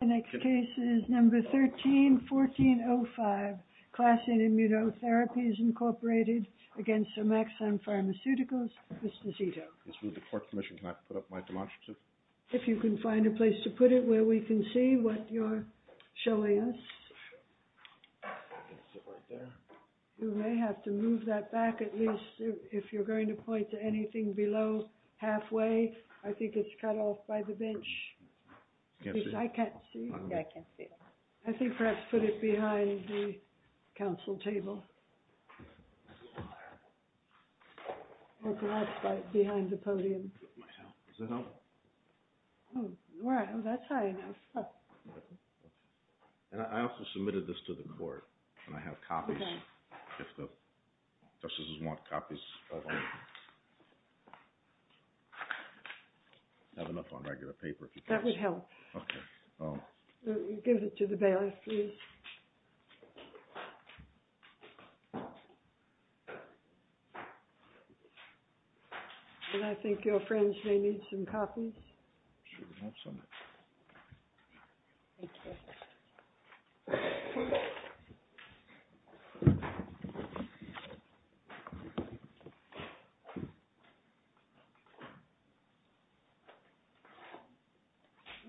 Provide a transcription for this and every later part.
The next case is number 13-1405, Class A Immunotherapies, Incorporated, against Somaxone Pharmaceuticals, Vistacito. Let's move the court commission. Can I put up my demonstrative? If you can find a place to put it where we can see what you're showing us. You may have to move that back, at least if you're going to point to anything below halfway. I think it's cut off by the bench. I can't see. Yeah, I can't see it. I think perhaps put it behind the council table. Or perhaps behind the podium. Does that help? Oh, wow, that's high enough. And I also submitted this to the court, and I have copies. If the justices want copies. I have enough on regular paper. That would help. Give it to the bailiff, please. And I think your friends may need some copies. Sure, we'll have some.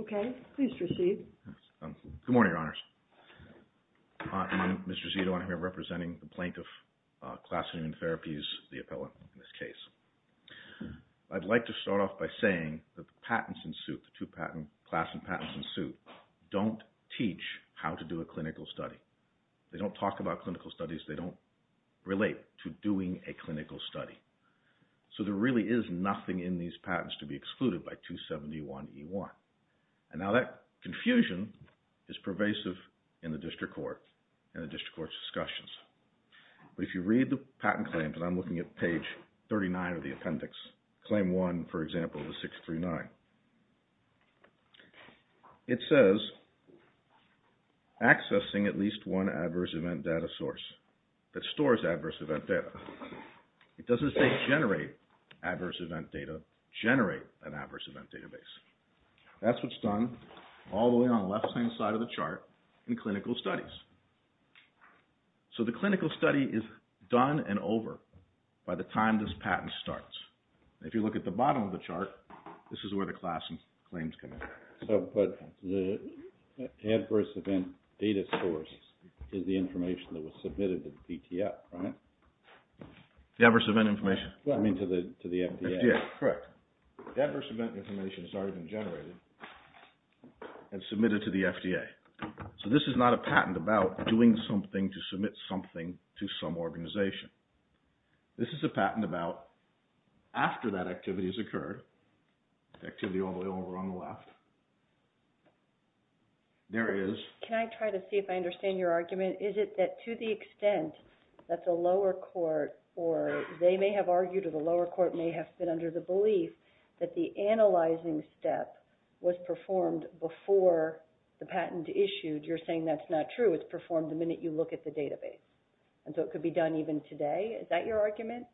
Okay, please proceed. Good morning, Your Honors. I'm Mr. Zito. I'm here representing the Plaintiff Class of Immunotherapies, the appellant in this case. I'd like to start off by saying that the patents in suit, the two patent, class and patents in suit, don't teach how to do a clinical study. They don't talk about clinical studies. They don't relate to doing a clinical study. So there really is nothing in these patents to be excluded by 271E1. And now that confusion is pervasive in the district court and the district court's discussions. But if you read the patent claims, and I'm looking at page 39 of the appendix, claim one, for example, of the 639. It says, accessing at least one adverse event data source that stores adverse event data. It doesn't say generate adverse event data, generate an adverse event database. That's what's done all the way on the left-hand side of the chart in clinical studies. So the clinical study is done and over by the time this patent starts. If you look at the bottom of the chart, this is where the class claims come in. But the adverse event data source is the information that was submitted to the PTF, right? The adverse event information. I mean, to the FDA. Correct. The adverse event information has already been generated and submitted to the FDA. So this is not a patent about doing something to submit something to some organization. This is a patent about after that activity has occurred, activity all the way over on the left. There is. Can I try to see if I understand your argument? Is it that to the extent that the lower court or they may have argued or the lower court may have been under the belief that the analyzing step was performed before the patent issued? You're saying that's not true. It's performed the minute you look at the database. And so it could be done even today. Is that your argument?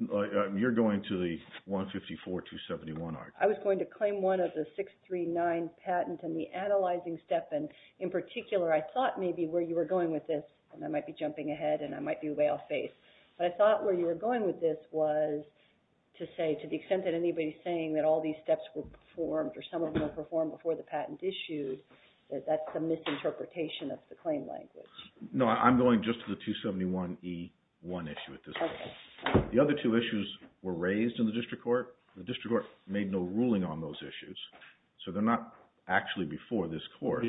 You're going to the 154-271 argument. I was going to claim one of the 639 patent and the analyzing step. In particular, I thought maybe where you were going with this, and I might be jumping ahead and I might be way off base, but I thought where you were going with this was to say, to the extent that anybody's saying that all these steps were performed or some of them were performed before the patent issued, that's a misinterpretation of the claim language. No, I'm going just to the 271E1 issue at this point. The other two issues were raised in the district court. The district court made no ruling on those issues. So they're not actually before this court.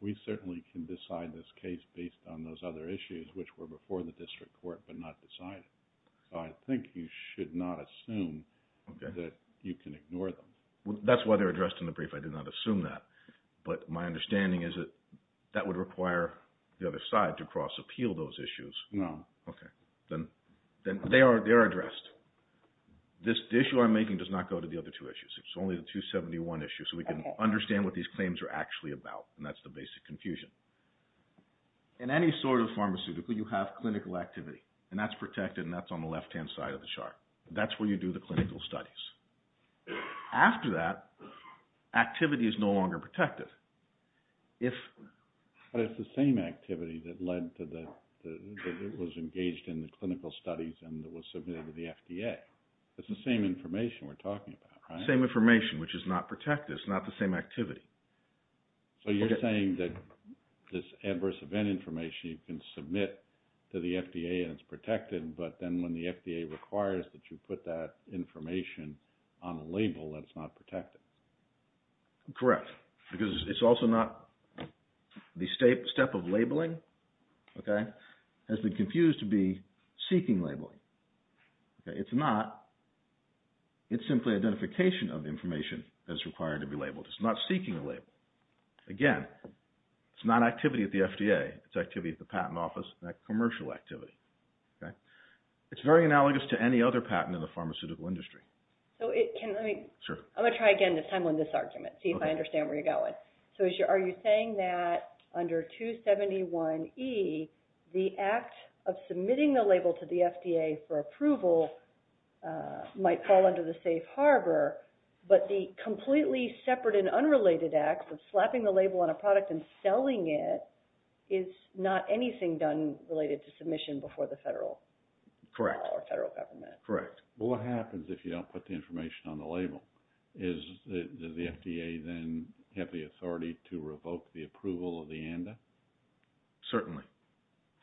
We certainly can decide this case based on those other issues which were before the district court but not decided. So I think you should not assume that you can ignore them. That's why they're addressed in the brief. I did not assume that. But my understanding is that that would require the other side to cross-appeal those issues. Then they are addressed. This issue I'm making does not go to the other two issues. It's only the 271 issue. So we can understand what these claims are actually about. That's the basic confusion. In any sort of pharmaceutical, you have clinical activity. And that's protected and that's on the left-hand side of the chart. That's where you do the clinical studies. After that, activity is no longer protective. But it's the same activity that was engaged in the clinical studies and that was submitted to the FDA. It's the same information we're talking about, right? Same information which is not protected. It's not the same activity. So you're saying that this adverse event information, you can submit to the FDA and it's protected. But then when the FDA requires that you put that information on a label that it's not protected. Correct. Because it's also not... The step of labeling has been confused to be seeking labeling. It's not. It's simply identification of information that's required to be labeled. It's not seeking a label. Again, it's not activity at the FDA. It's activity at the patent office, that commercial activity. It's very analogous to any other patent in the pharmaceutical industry. So it can... I'm going to try again this time on this argument, see if I understand where you're going. So are you saying that under 271E, the act of submitting the label to the FDA for approval might fall under the safe harbor, but the completely separate and unrelated acts of slapping the label on a product and selling it is not anything done related to submission before the federal... Correct. ...or federal government. Correct. Well, what happens if you don't put the information on the label? Does the FDA then have the authority to revoke the approval of the ANDA? Certainly.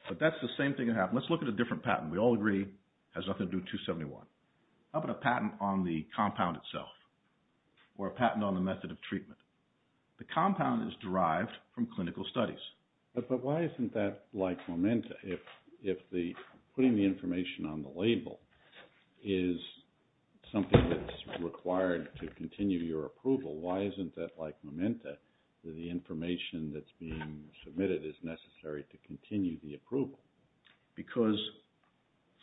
But that's the same thing that happened. Let's look at a different patent. We all agree it has nothing to do with 271. How about a patent on the compound itself? Or a patent on the method of treatment? The compound is derived from clinical studies. But why isn't that like momenta? If putting the information on the label is something that's required to continue your approval, why isn't that like momenta, that the information that's being submitted is necessary to continue the approval? Because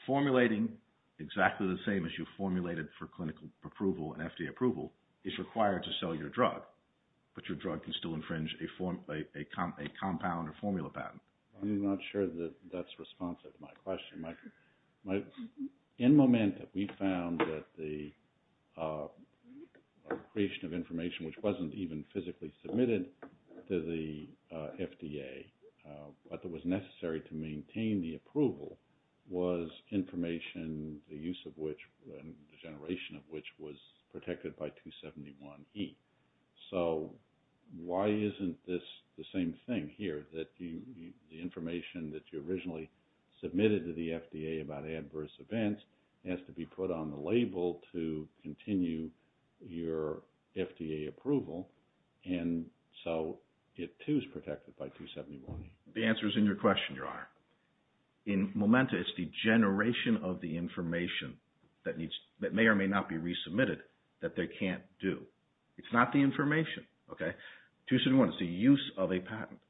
formulating exactly the same as you formulated for clinical approval and FDA approval is required to sell your drug, but your drug can still infringe a compound or formula patent. I'm not sure that that's responsive to my question. In momenta, we found that the creation of information which wasn't even physically submitted to the FDA, but that was necessary to maintain the approval, was information, the use of which, the generation of which was protected by 271E. So why isn't this the same thing here? That the information that you originally submitted to the FDA about adverse events has to be put on the label to continue your FDA approval. And so it too is protected by 271E. The answer is in your question, Your Honor. In momenta, it's the generation of the information that may or may not be resubmitted that they can't do. It's not the information, okay? 271E is the use of a patent.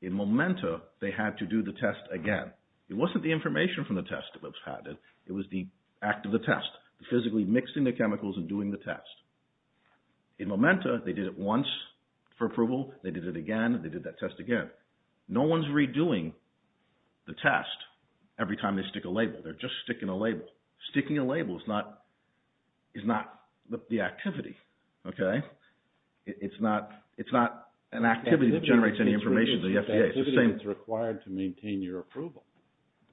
In momenta, they had to do the test again. It wasn't the information from the test that was patented. It was the act of the test, physically mixing the chemicals and doing the test. In momenta, they did it once for approval. They did it again. They did that test again. No one's redoing the test every time they stick a label. They're just sticking a label. Sticking a label is not the activity, okay? It's not an activity that generates any information to the FDA. It's the activity that's required to maintain your approval.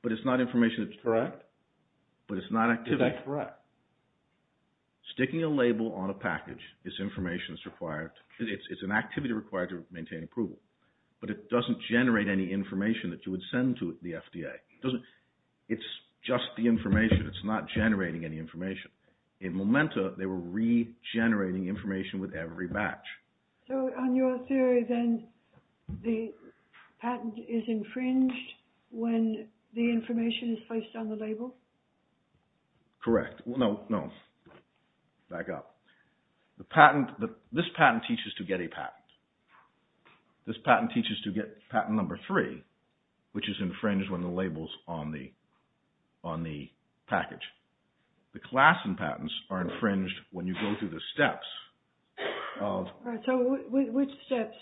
But it's not information that's correct. But it's not activity. That's correct. Sticking a label on a package is information that's required. It's an activity required to maintain approval. But it doesn't generate any information that you would send to the FDA. It's just the information. It's not generating any information. In momenta, they were regenerating information with every batch. So on your theory, then, the patent is infringed when the information is placed on the label? Correct. No, no, back up. This patent teaches to get a patent. This patent teaches to get patent number three, which is infringed when the label's on the package. The class and patents are infringed when you go through the steps of... All right, so which steps?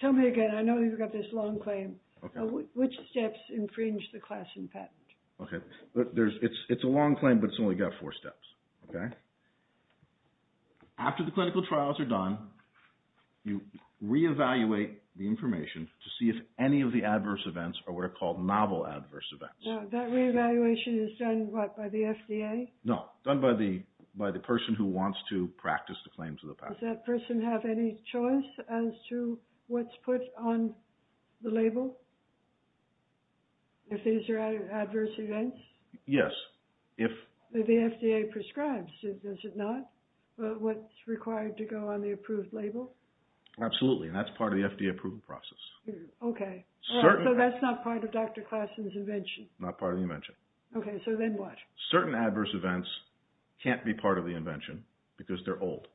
Tell me again. I know you've got this long claim. Which steps infringe the class and patent? Okay, it's a long claim, but it's only got four steps, okay? After the clinical trials are done, you re-evaluate the information to see if any of the adverse events are what are called novel adverse events. That re-evaluation is done, what, by the FDA? No, done by the person who wants to practice the claims of the patent. Does that person have any choice as to what's put on the label? If these are adverse events? Yes, if... The FDA prescribes, does it not? What's required to go on the approved label? Absolutely, and that's part of the FDA approval process. Okay, so that's not part of Dr. Klassen's invention? Not part of the invention. Okay, so then what? Certain adverse events can't be part of the invention because they're old.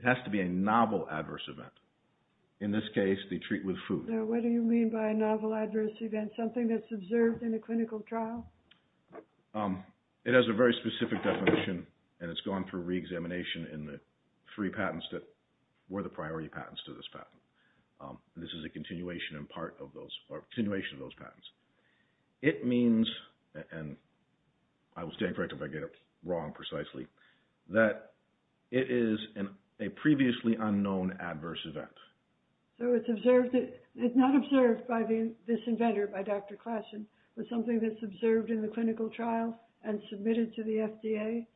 It has to be a novel adverse event. In this case, they treat with food. What do you mean by a novel adverse event? Something that's observed in a clinical trial? It has a very specific definition, and it's gone through re-examination in the three patents that were the priority patents to this patent. This is a continuation of those patents. It means, and I will stand corrected if I get it wrong precisely, that it is a previously unknown adverse event. So it's observed... It's not observed by this inventor, by Dr. Klassen, but something that's observed in the clinical trial and submitted to the FDA?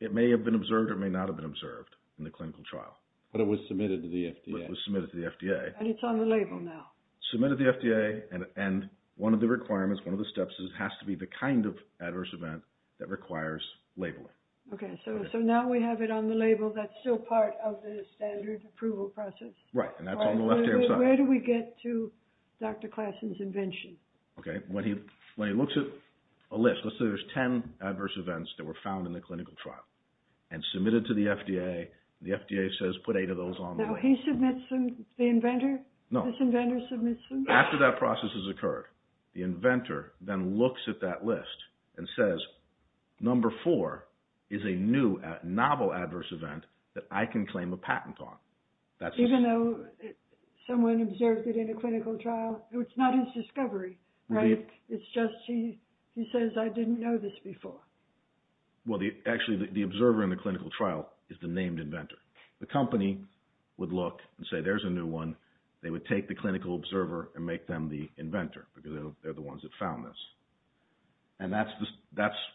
It may have been observed or may not have been observed in the clinical trial. But it was submitted to the FDA. But it was submitted to the FDA. And it's on the label now. Submitted to the FDA, and one of the requirements, one of the steps is it has to be the kind of adverse event that requires labeling. Okay, so now we have it on the label. That's still part of the standard approval process. Right, and that's on the left-hand side. Where do we get to Dr. Klassen's invention? Okay, when he looks at a list, let's say there's 10 adverse events that were found in the clinical trial and submitted to the FDA, the FDA says put eight of those on there. Now he submits them? The inventor? No. This inventor submits them? After that process has occurred, the inventor then looks at that list and says, number four is a new novel adverse event that I can claim a patent on. Even though someone observed it in a clinical trial? It's not his discovery, right? It's just he says, I didn't know this before. Well, actually, the observer in the clinical trial is the named inventor. The company would look and say, there's a new one. They would take the clinical observer and make them the inventor, because they're the ones that found this. And that's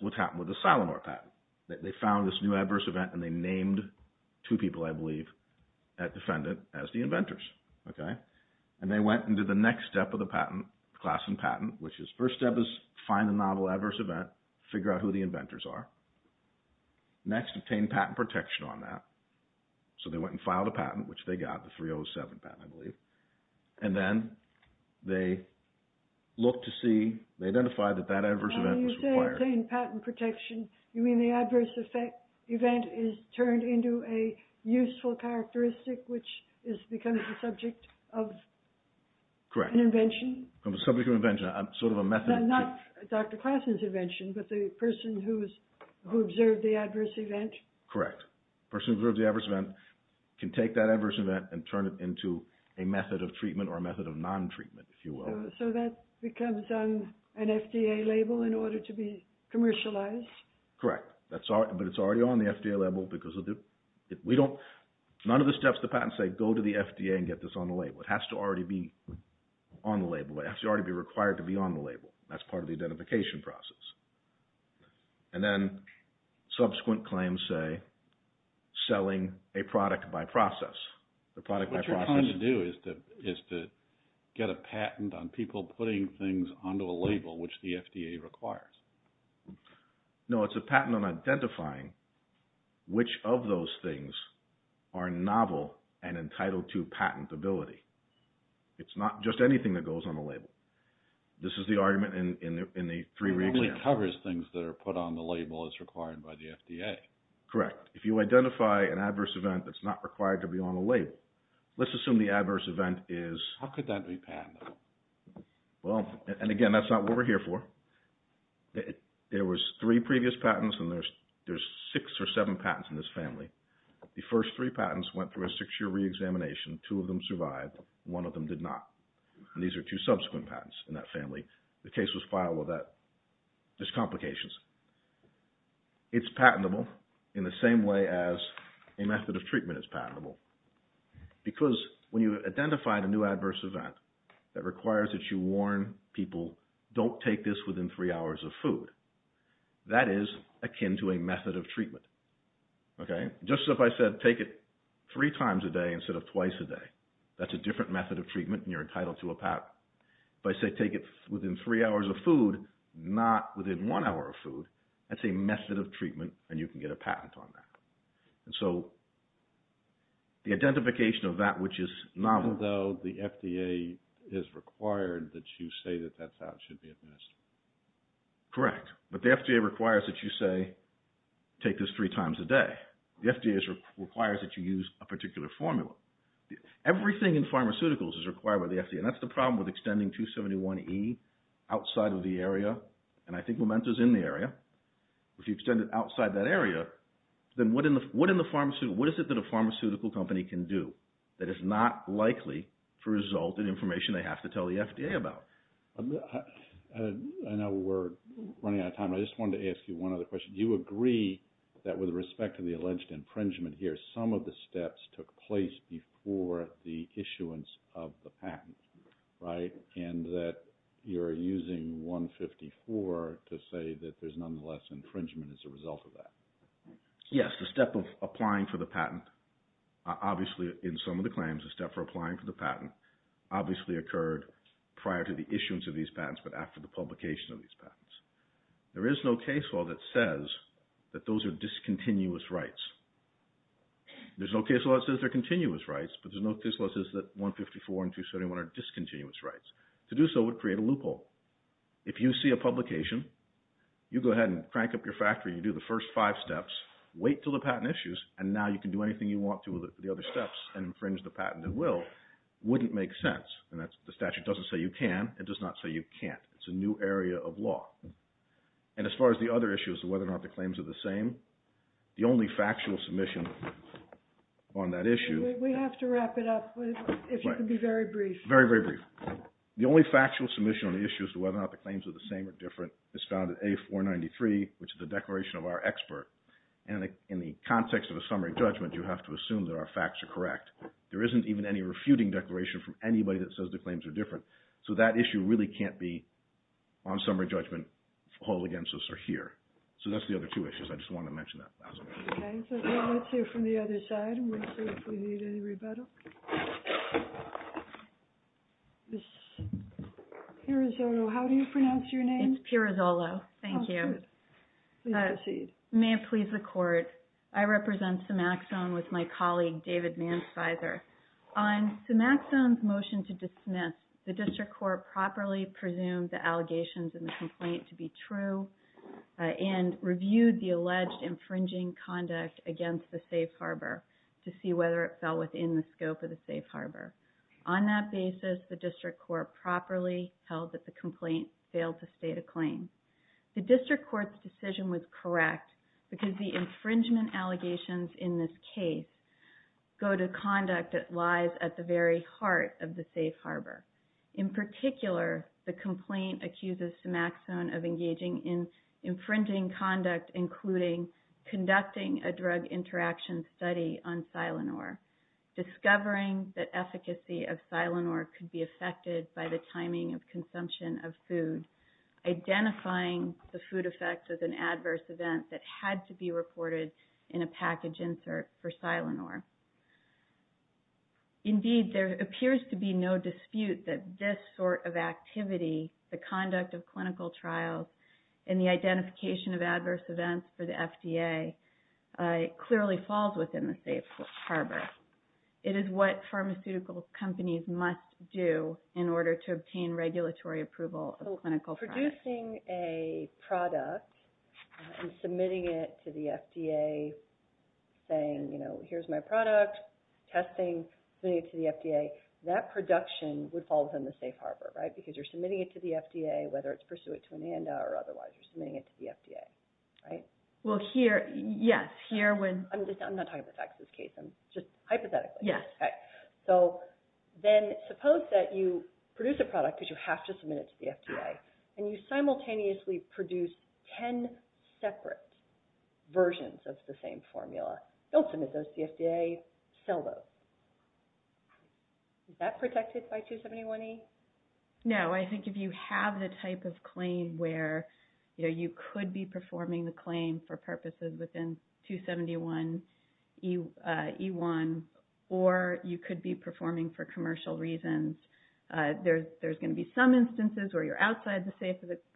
what happened with the Silenor patent. They found this new adverse event and they named two people, I believe, at defendant as the inventors, okay? And they went and did the next step of the patent, Klassen patent, which is first step is find a novel adverse event, figure out who the inventors are. Next, obtain patent protection on that. So they went and filed a patent, which they got, the 307 patent, I believe. And then they looked to see, they identified that that adverse event was required. When you say obtain patent protection, you mean the adverse event is turned into a useful characteristic, which is becoming the subject of an invention? Correct. The subject of invention, sort of a method. Not Dr. Klassen's invention, but the person who observed the adverse event? Correct. Person who observed the adverse event can take that adverse event and turn it into a method of treatment or a method of non-treatment, if you will. So that becomes an FDA label in order to be commercialized? Correct. But it's already on the FDA label because we don't, none of the steps of the patent say go to the FDA and get this on the label. It has to already be on the label. It has to already be required to be on the label. That's part of the identification process. And then subsequent claims say selling a product by process. The product by process. What you're trying to do is to get a patent on people putting things onto a label, which the FDA requires. No, it's a patent on identifying which of those things are novel and entitled to patentability. It's not just anything that goes on the label. This is the argument in the three re-examples. It only covers things that are put on the label as required by the FDA. Correct. If you identify an adverse event that's not required to be on the label, let's assume the adverse event is... How could that be patented? Well, and again, that's not what we're here for. There was three previous patents and there's six or seven patents in this family. The first three patents went through a six-year re-examination. Two of them survived. One of them did not. And these are two subsequent patents in that family. The case was filed with that. There's complications. It's patentable in the same way as a method of treatment is patentable. Because when you identify a new adverse event that requires that you warn people, don't take this within three hours of food, that is akin to a method of treatment. Okay? Just as if I said, take it three times a day instead of twice a day. That's a different method of treatment and you're entitled to a patent. If I say take it within three hours of food, not within one hour of food, that's a method of treatment and you can get a patent on that. And so the identification of that which is novel... Although the FDA is required that you say that that's how it should be administered. Correct. But the FDA requires that you say, take this three times a day. The FDA requires that you use a particular formula. Everything in pharmaceuticals is required by the FDA. And that's the problem with extending 271E outside of the area, and I think Memento is in the area. If you extend it outside that area, then what is it that a pharmaceutical company can do that is not likely to result in information they have to tell the FDA about? I know we're running out of time. I just wanted to ask you one other question. Do you agree that with respect to the alleged impringement here, some of the steps took place before the issuance of the patent, right? And that you're using 154 to say that there's nonetheless infringement as a result of that. Yes, the step of applying for the patent, obviously in some of the claims, the step for applying for the patent obviously occurred prior to the issuance of these patents, but after the publication of these patents. There is no case law that says that those are discontinuous rights. There's no case law that says they're continuous rights, but there's no case law that says that 154 and 271 are discontinuous rights. To do so would create a loophole. If you see a publication, you go ahead and crank up your factory, you do the first five steps, wait until the patent issues, and now you can do anything you want to with the other steps and infringe the patent at will, wouldn't make sense. And the statute doesn't say you can, it does not say you can't. It's a new area of law. And as far as the other issues, whether or not the claims are the same, the only factual submission on that issue... We have to wrap it up, if you could be very brief. Very, very brief. The only factual submission on the issue as to whether or not the claims are the same or different is found at A493, which is the declaration of our expert. And in the context of a summary judgment, you have to assume that our facts are correct. There isn't even any refuting declaration from anybody that says the claims are different. So that issue really can't be, on summary judgment, held against us or here. So that's the other two issues. I just wanted to mention that. Okay, so now let's hear from the other side and we'll see if we need any rebuttal. Ms. Pirazzolo, how do you pronounce your name? It's Pirazzolo. Thank you. That's good. Please proceed. May it please the court, I represent Cimaxone with my colleague, David Manspizer. On Cimaxone's motion to dismiss, the district court properly presumed the allegations in the complaint to be true and reviewed the alleged infringing conduct against the safe harbor to see whether it fell within the scope of the safe harbor. On that basis, the district court properly held that the complaint failed to state a claim. The district court's decision was correct because the infringement allegations in this case go to conduct that lies at the very heart of the safe harbor. In particular, the complaint accuses Cimaxone of engaging in infringing conduct, including conducting a drug interaction study on Silanor, discovering that efficacy of Silanor could be affected by the timing of consumption of food, identifying the food effects as an adverse event that had to be reported in a package insert for Silanor. Indeed, there appears to be no dispute that this sort of activity, the conduct of clinical trials and the identification of adverse events for the FDA clearly falls within the safe harbor. It is what pharmaceutical companies must do in order to obtain regulatory approval of clinical trials. Producing a product and submitting it to the FDA saying, you know, here's my product, testing, submitting it to the FDA, that production would fall within the safe harbor, right? Because you're submitting it to the FDA, whether it's pursuant to an ANDA or otherwise, you're submitting it to the FDA, right? Well, here, yes, here when... I'm just, I'm not talking the facts of this case. I'm just hypothetically. Yes. So then suppose that you produce a product because you have to submit it to the FDA and you simultaneously produce 10 separate versions of the same formula. Don't submit those to the FDA, sell those. Is that protected by 271E? No, I think if you have the type of claim where you could be performing the claim for purposes within 271E1 or you could be performing for commercial reasons, there's going to be some instances where you're outside the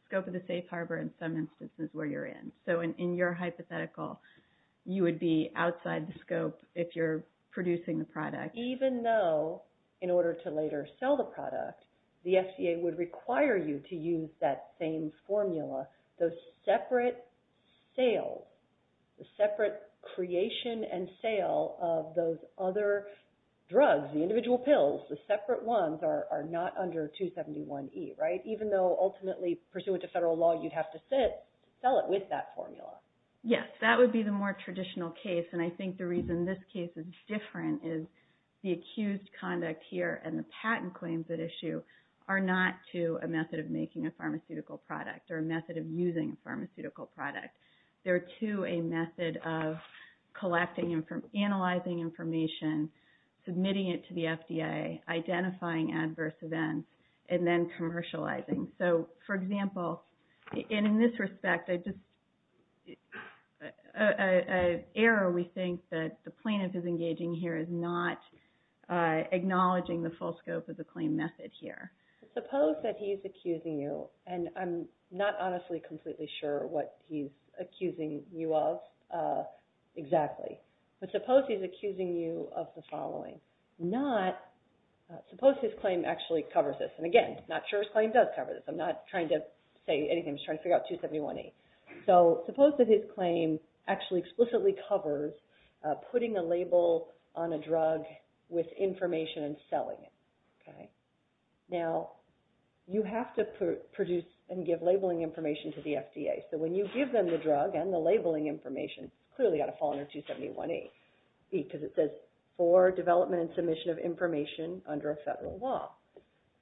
scope of the safe harbor and some instances where you're in. So in your hypothetical, you would be outside the scope if you're producing the product. Even though in order to later sell the product, the FDA would require you to use that same formula, those separate sales, the separate creation and sale of those other drugs, the individual pills, the separate ones are not under 271E, right? Even though ultimately pursuant to federal law, you'd have to sit, sell it with that formula. Yes, that would be the more traditional case. And I think the reason this case is different is the accused conduct here and the patent claims that issue are not to a method of making a pharmaceutical product or a method of using a pharmaceutical product. They're to a method of collecting, analyzing information, submitting it to the FDA, identifying adverse events, and then commercializing. So for example, and in this respect, an error we think that the plaintiff is engaging here is not acknowledging the full scope of the claim method here. Suppose that he's accusing you, and I'm not honestly completely sure what he's accusing you of exactly, but suppose he's accusing you of the following. Suppose his claim actually covers this. And again, not sure his claim does cover this. I'm not trying to say anything. I'm just trying to figure out 271E. So suppose that his claim actually explicitly covers putting a label on a drug with information and selling it. Now, you have to produce and give labeling information to the FDA. So when you give them the drug and the labeling information, it's clearly got to fall under 271E because it says, for development and submission of information under a federal law.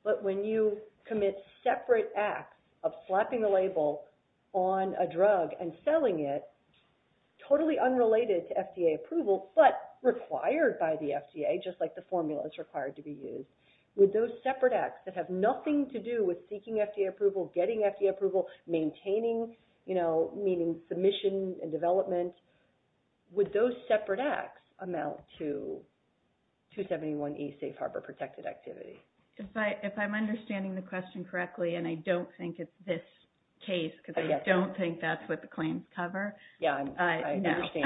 But when you commit separate acts of slapping the label on a drug and selling it totally unrelated to FDA approval, but required by the FDA, just like the formula is required to be used, with those separate acts that have nothing to do with seeking FDA approval, getting FDA approval, maintaining, you know, meaning submission and development, with those separate acts amount to 271E safe harbor protected activity. If I'm understanding the question correctly, and I don't think it's this case, because I don't think that's what the claims cover. Yeah, I understand.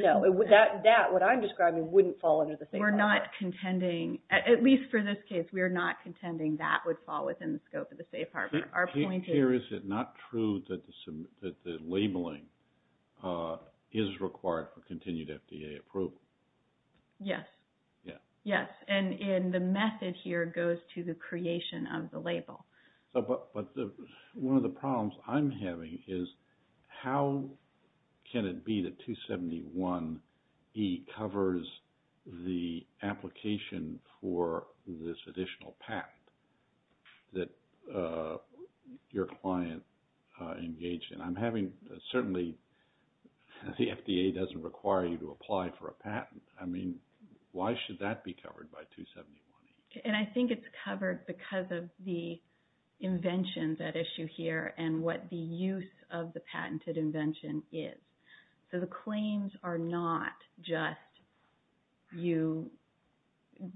No, that, what I'm describing, wouldn't fall under the safe harbor. We're not contending, at least for this case, we're not contending that would fall within the scope of the safe harbor. Our point here is, is it not true that the labeling is required for continued FDA approval? And the method here goes to the creation of the label. But one of the problems I'm having is, how can it be that 271E covers the application for this additional patent that your client engaged in? I'm having, certainly, the FDA doesn't require you to apply for a patent. I mean, why should that be covered by 271E? And I think it's covered because of the invention that issue here, and what the use of the patented invention is. So the claims are not just, you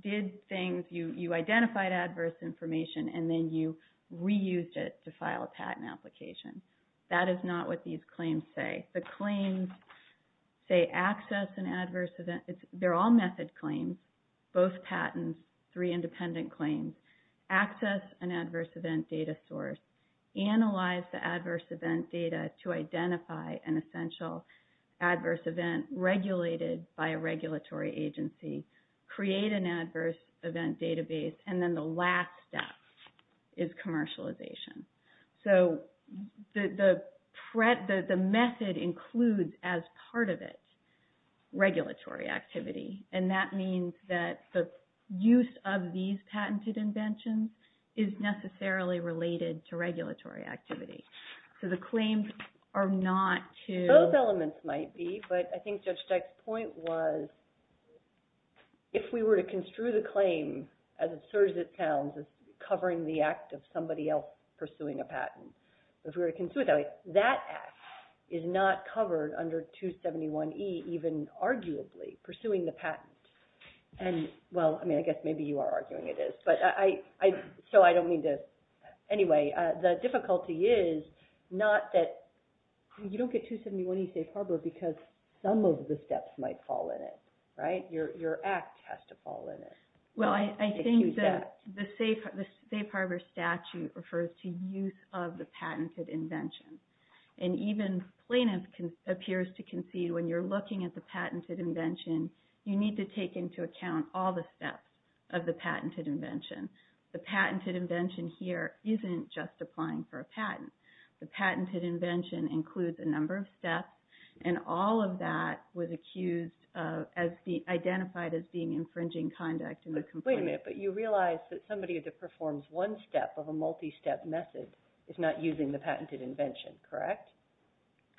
did things, you identified adverse information, and then you reused it to file a patent application. That is not what these claims say. The claims say access and adverse events, they're all method claims, both patents, three independent claims. Access an adverse event data source. Analyze the adverse event data to identify an essential adverse event regulated by a regulatory agency. Create an adverse event database. And then the last step is commercialization. So the method includes, as part of it, regulatory activity. And that means that the use of these patented inventions is necessarily related to regulatory activity. So the claims are not to... Those elements might be, but I think Judge Steich's point was, if we were to construe the claim, as absurd as it sounds, as covering the act of somebody else pursuing a patent. If we were to construe it that way, that act is not covered under 271E, even arguably, pursuing the patent. And well, I mean, I guess maybe you are arguing it is. So I don't mean to... Anyway, the difficulty is not that you don't get 271E safe harbor because some of the steps might fall in it, right? Your act has to fall in it. Well, I think that the safe harbor statute refers to use of the patented invention. And even plaintiff appears to concede when you're looking at the patented invention, you need to take into account all the steps of the patented invention. The patented invention here isn't just applying for a patent. The patented invention includes a number of steps and all of that was accused of, identified as being infringing conduct in the complaint. Wait a minute, but you realize that somebody that performs one step of a multi-step method is not using the patented invention, correct?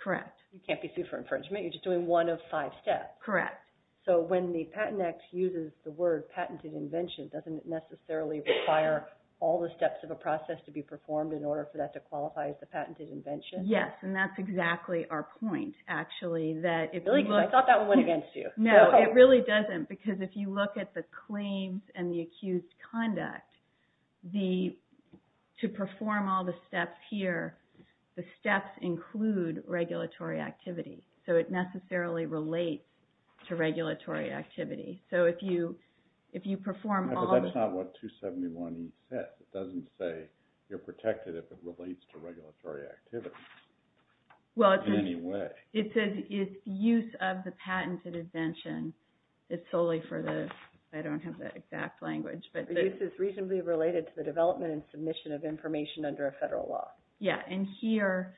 Correct. You can't be sued for infringement. You're just doing one of five steps. Correct. So when the Patent Act uses the word patented invention, doesn't it necessarily require all the steps of a process to be performed in order for that to qualify as the patented invention? Yes, and that's exactly our point, actually. I thought that one went against you. No, it really doesn't because if you look at the claims and the accused conduct, to perform all the steps here, the steps include regulatory activity. So it necessarily relates to regulatory activity. So if you perform all... But that's not what 271E says. It doesn't say you're protected if it relates to regulatory activity in any way. It says it's use of the patented invention. It's solely for the... I don't have the exact language, but... The use is reasonably related to the development and submission of information under a federal law. Yeah, and here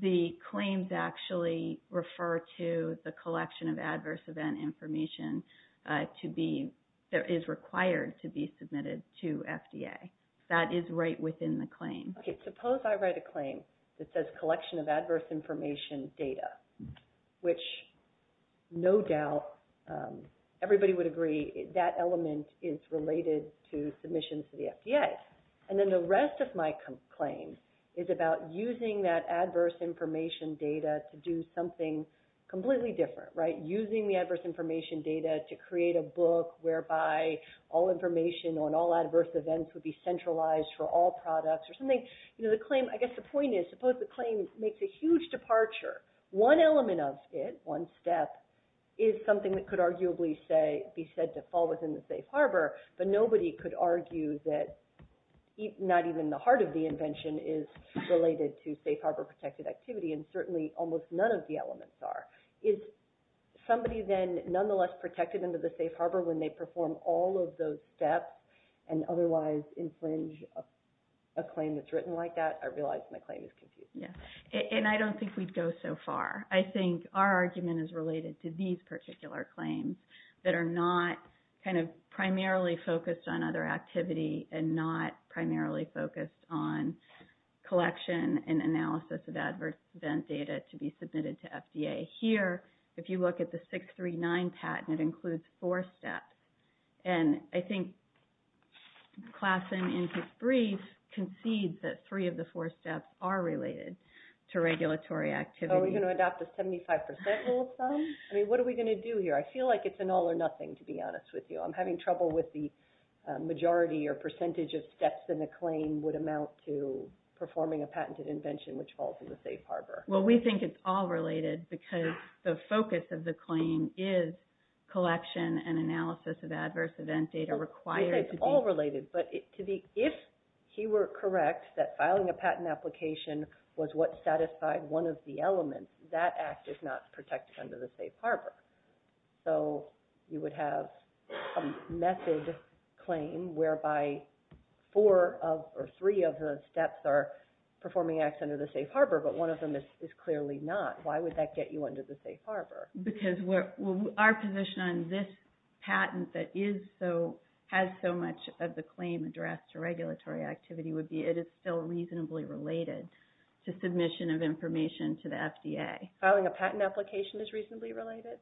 the claims actually refer to the collection of adverse event information that is required to be submitted to FDA. That is right within the claim. Okay, suppose I write a claim that says collection of adverse information data, which no doubt everybody would agree that element is related to submissions to the FDA. And then the rest of my claim is about using that adverse information data to do something completely different, right? Using the adverse information data to create a book whereby all information on all adverse events would be centralized for all products or something. I guess the point is, suppose the claim makes a huge departure. One element of it, one step, is something that could arguably say be said to fall within the safe harbor, but nobody could argue that not even the heart of the invention is related to safe harbor protected activity, and certainly almost none of the elements are. Is somebody then nonetheless protected under the safe harbor when they perform all of those steps and otherwise infringe a claim that's written like that? I realize my claim is confusing. Yeah, and I don't think we'd go so far. I think our argument is related to these particular claims that are not kind of primarily focused on other activity and not primarily focused on collection and analysis of adverse event data to be submitted to FDA. Here, if you look at the 639 patent, it includes four steps. And I think Classen in his brief concedes that three of the four steps are related to regulatory activity. Are we going to adopt a 75% rule of thumb? I mean, what are we going to do here? I feel like it's an all or nothing, to be honest with you. I'm having trouble with the majority or percentage of steps in the claim would amount to performing a patented invention which falls in the safe harbor. Well, we think it's all related because the focus of the claim is collection and analysis of adverse event data required to be- We think it's all related, but if he were correct that filing a patent application was what satisfied one of the elements, that act is not protected under the safe harbor. So you would have a method claim whereby four of or three of the steps are performing acts under the safe harbor, but one of them is clearly not. Why would that get you under the safe harbor? Because our position on this patent that has so much of the claim addressed to regulatory activity would be it is still reasonably related to submission of information to the FDA. Filing a patent application is reasonably related?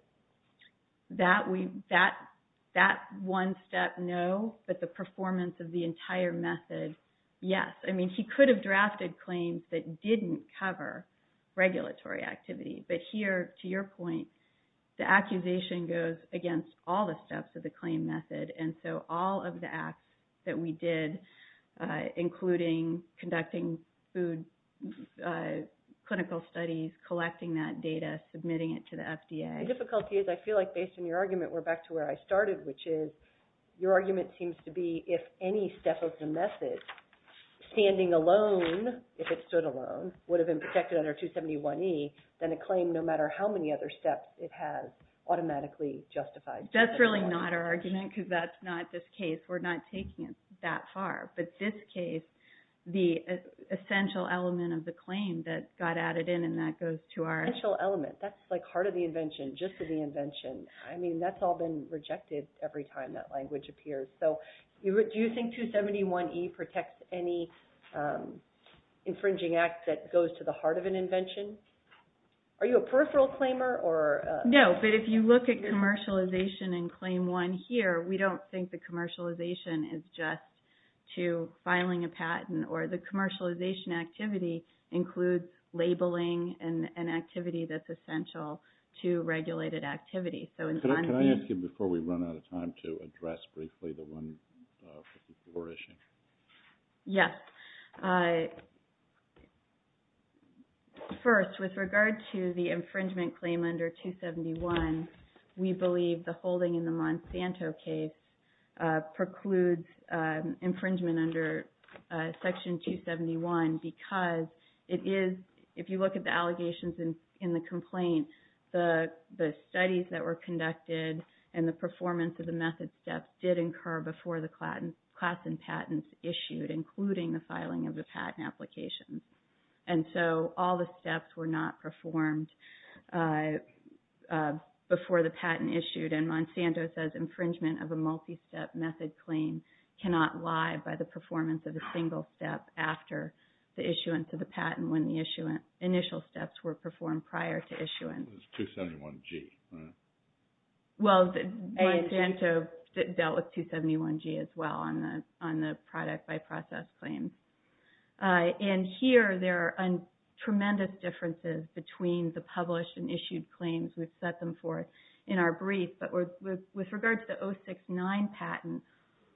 That one step, no, but the performance of the entire method, yes. I mean, he could have drafted claims that didn't cover regulatory activity, but here, to your point, the accusation goes against all the steps of the claim method. And so all of the acts that we did, including conducting food, clinical studies, collecting that data, submitting it to the FDA. The difficulty is, I feel like based on your argument, we're back to where I started, which is your argument seems to be, if any step of the method, standing alone, if it stood alone, would have been protected under 271E, then a claim, no matter how many other steps, it has automatically justified. That's really not our argument because that's not this case. We're not taking it that far. But this case, the essential element of the claim that got added in, and that goes to our... Essential element. That's like heart of the invention, just to the invention. I mean, that's all been rejected every time that language appears. So do you think 271E protects any infringing act that goes to the heart of an invention? Are you a peripheral claimer or... No, but if you look at commercialization in claim one here, we don't think the commercialization is just to filing a patent or the commercialization activity includes labeling an activity that's essential to regulated activity. Can I ask you, before we run out of time, to address briefly the 154 issue? Yes. First, with regard to the infringement claim under 271, we believe the holding in the Monsanto case precludes infringement under Section 271 because it is... The studies that were conducted and the performance of the method steps did incur before the class and patents issued, including the filing of the patent application. And so all the steps were not performed before the patent issued. And Monsanto says infringement of a multi-step method claim cannot lie by the performance of a single step after the issuance of the patent when the initial steps were performed prior to issuance. It's 271G, right? Well, Monsanto dealt with 271G as well on the product by process claims. And here there are tremendous differences between the published and issued claims. We've set them forth in our brief, but with regard to the 069 patent,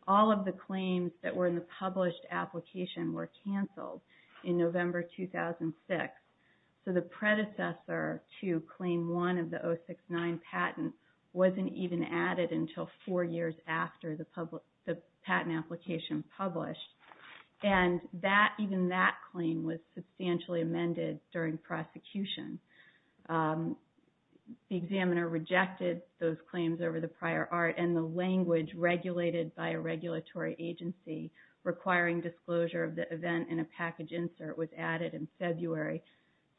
all of the claims that were in the published application were canceled in November 2006. So the predecessor to Claim 1 of the 069 patent wasn't even added until four years after the patent application published. And even that claim was substantially amended during prosecution. The examiner rejected those claims over the prior art and the language regulated by a regulatory agency requiring disclosure of the event and a package insert was added in February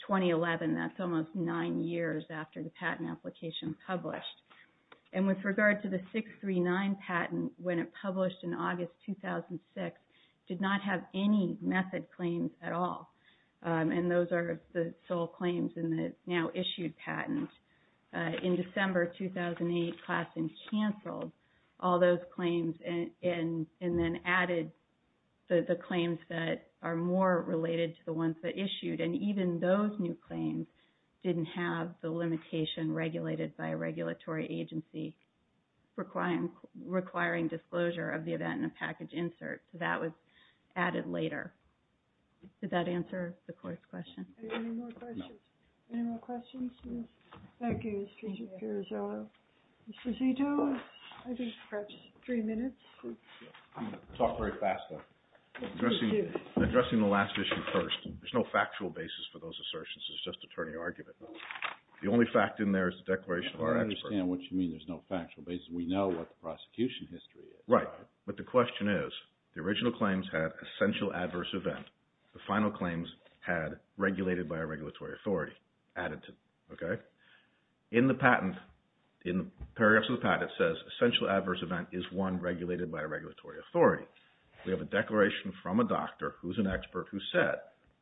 2011. That's almost nine years after the patent application published. And with regard to the 639 patent, when it published in August 2006, did not have any method claims at all. And those are the sole claims in the now issued patent. In December 2008, Claassen canceled all those claims and then added the claims that are more related to the ones that issued. And even those new claims didn't have the limitation regulated by a regulatory agency requiring disclosure of the event and a package insert. So that was added later. Did that answer the court's question? Any more questions? No. Any more questions? No. Thank you, Mr. Girozzello. Mr. Zito, I think perhaps three minutes. I'm going to talk very fast though. Addressing the last issue first, there's no factual basis for those assertions. It's just attorney argument. The only fact in there is the declaration of our expert. I understand what you mean there's no factual basis. We know what the prosecution history is. Right. But the question is, the original claims had essential adverse event. The final claims had regulated by a regulatory authority added to, okay? In the patent, in the paragraphs of the patent, it says essential adverse event is one regulated by a regulatory authority. We have a declaration from a doctor who's an expert who said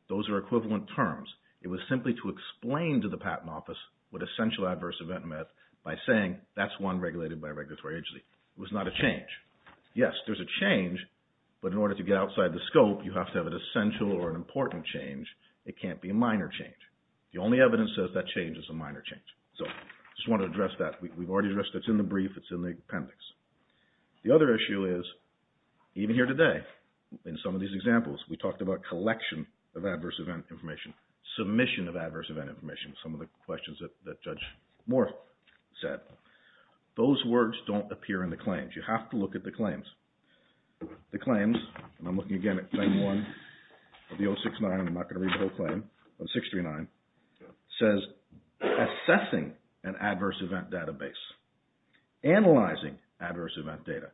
those are equivalent terms. It was simply to explain to the patent office what essential adverse event meant by saying that's one regulated by a regulatory authority. It was not a change. Yes, there's a change, but in order to get outside the scope, you have to have an essential or an important change. It can't be a minor change. The only evidence says that change is a minor change. So I just want to address that. We've already addressed it. It's in the brief. It's in the appendix. The other issue is even here today, in some of these examples, we talked about collection of adverse event information, submission of adverse event information, some of the questions that Judge Moore said. Those words don't appear in the claims. You have to look at the claims. The claims, and I'm looking again at claim one of the 069, I'm not going to read the whole claim, 0639, says assessing an adverse event database, analyzing adverse event data.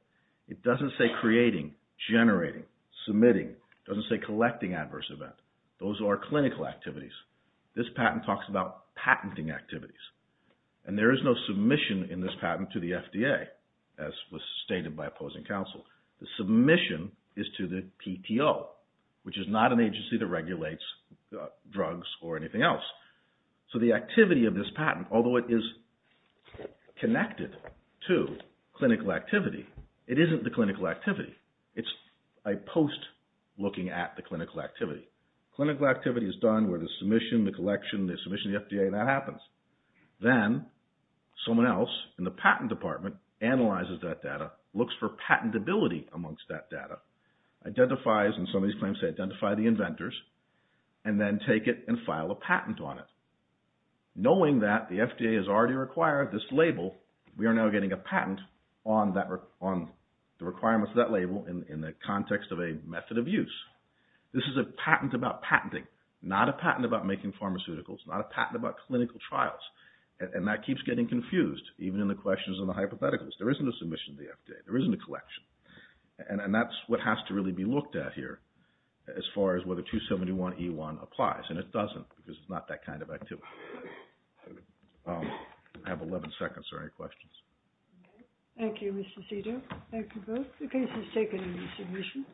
It doesn't say creating, generating, submitting. It doesn't say collecting adverse event. Those are clinical activities. This patent talks about patenting activities, and there is no submission in this patent to the FDA, as was stated by opposing counsel. The submission is to the PTO, which is not an agency that regulates drugs or anything else. So the activity of this patent, although it is connected to clinical activity, it isn't the clinical activity. It's a post looking at the clinical activity. Clinical activity is done where the submission, the collection, the submission to the FDA, that happens. Then someone else in the patent department analyzes that data, looks for patentability amongst that data, identifies, and some of these claims say identify the inventors, and then take it and file a patent on it. Knowing that the FDA has already required this label, we are now getting a patent on the requirements of that label in the context of a method of use. This is a patent about patenting, not a patent about making pharmaceuticals, not a patent about clinical trials. And that keeps getting confused, even in the questions and the hypotheticals. There isn't a submission to the FDA. There isn't a collection. And that's what has to really be looked at here as far as whether 271E1 applies. And it doesn't, because it's not that kind of activity. I have 11 seconds for any questions. Thank you, Mr. Cito. Thank you both. The case is taken and the submission.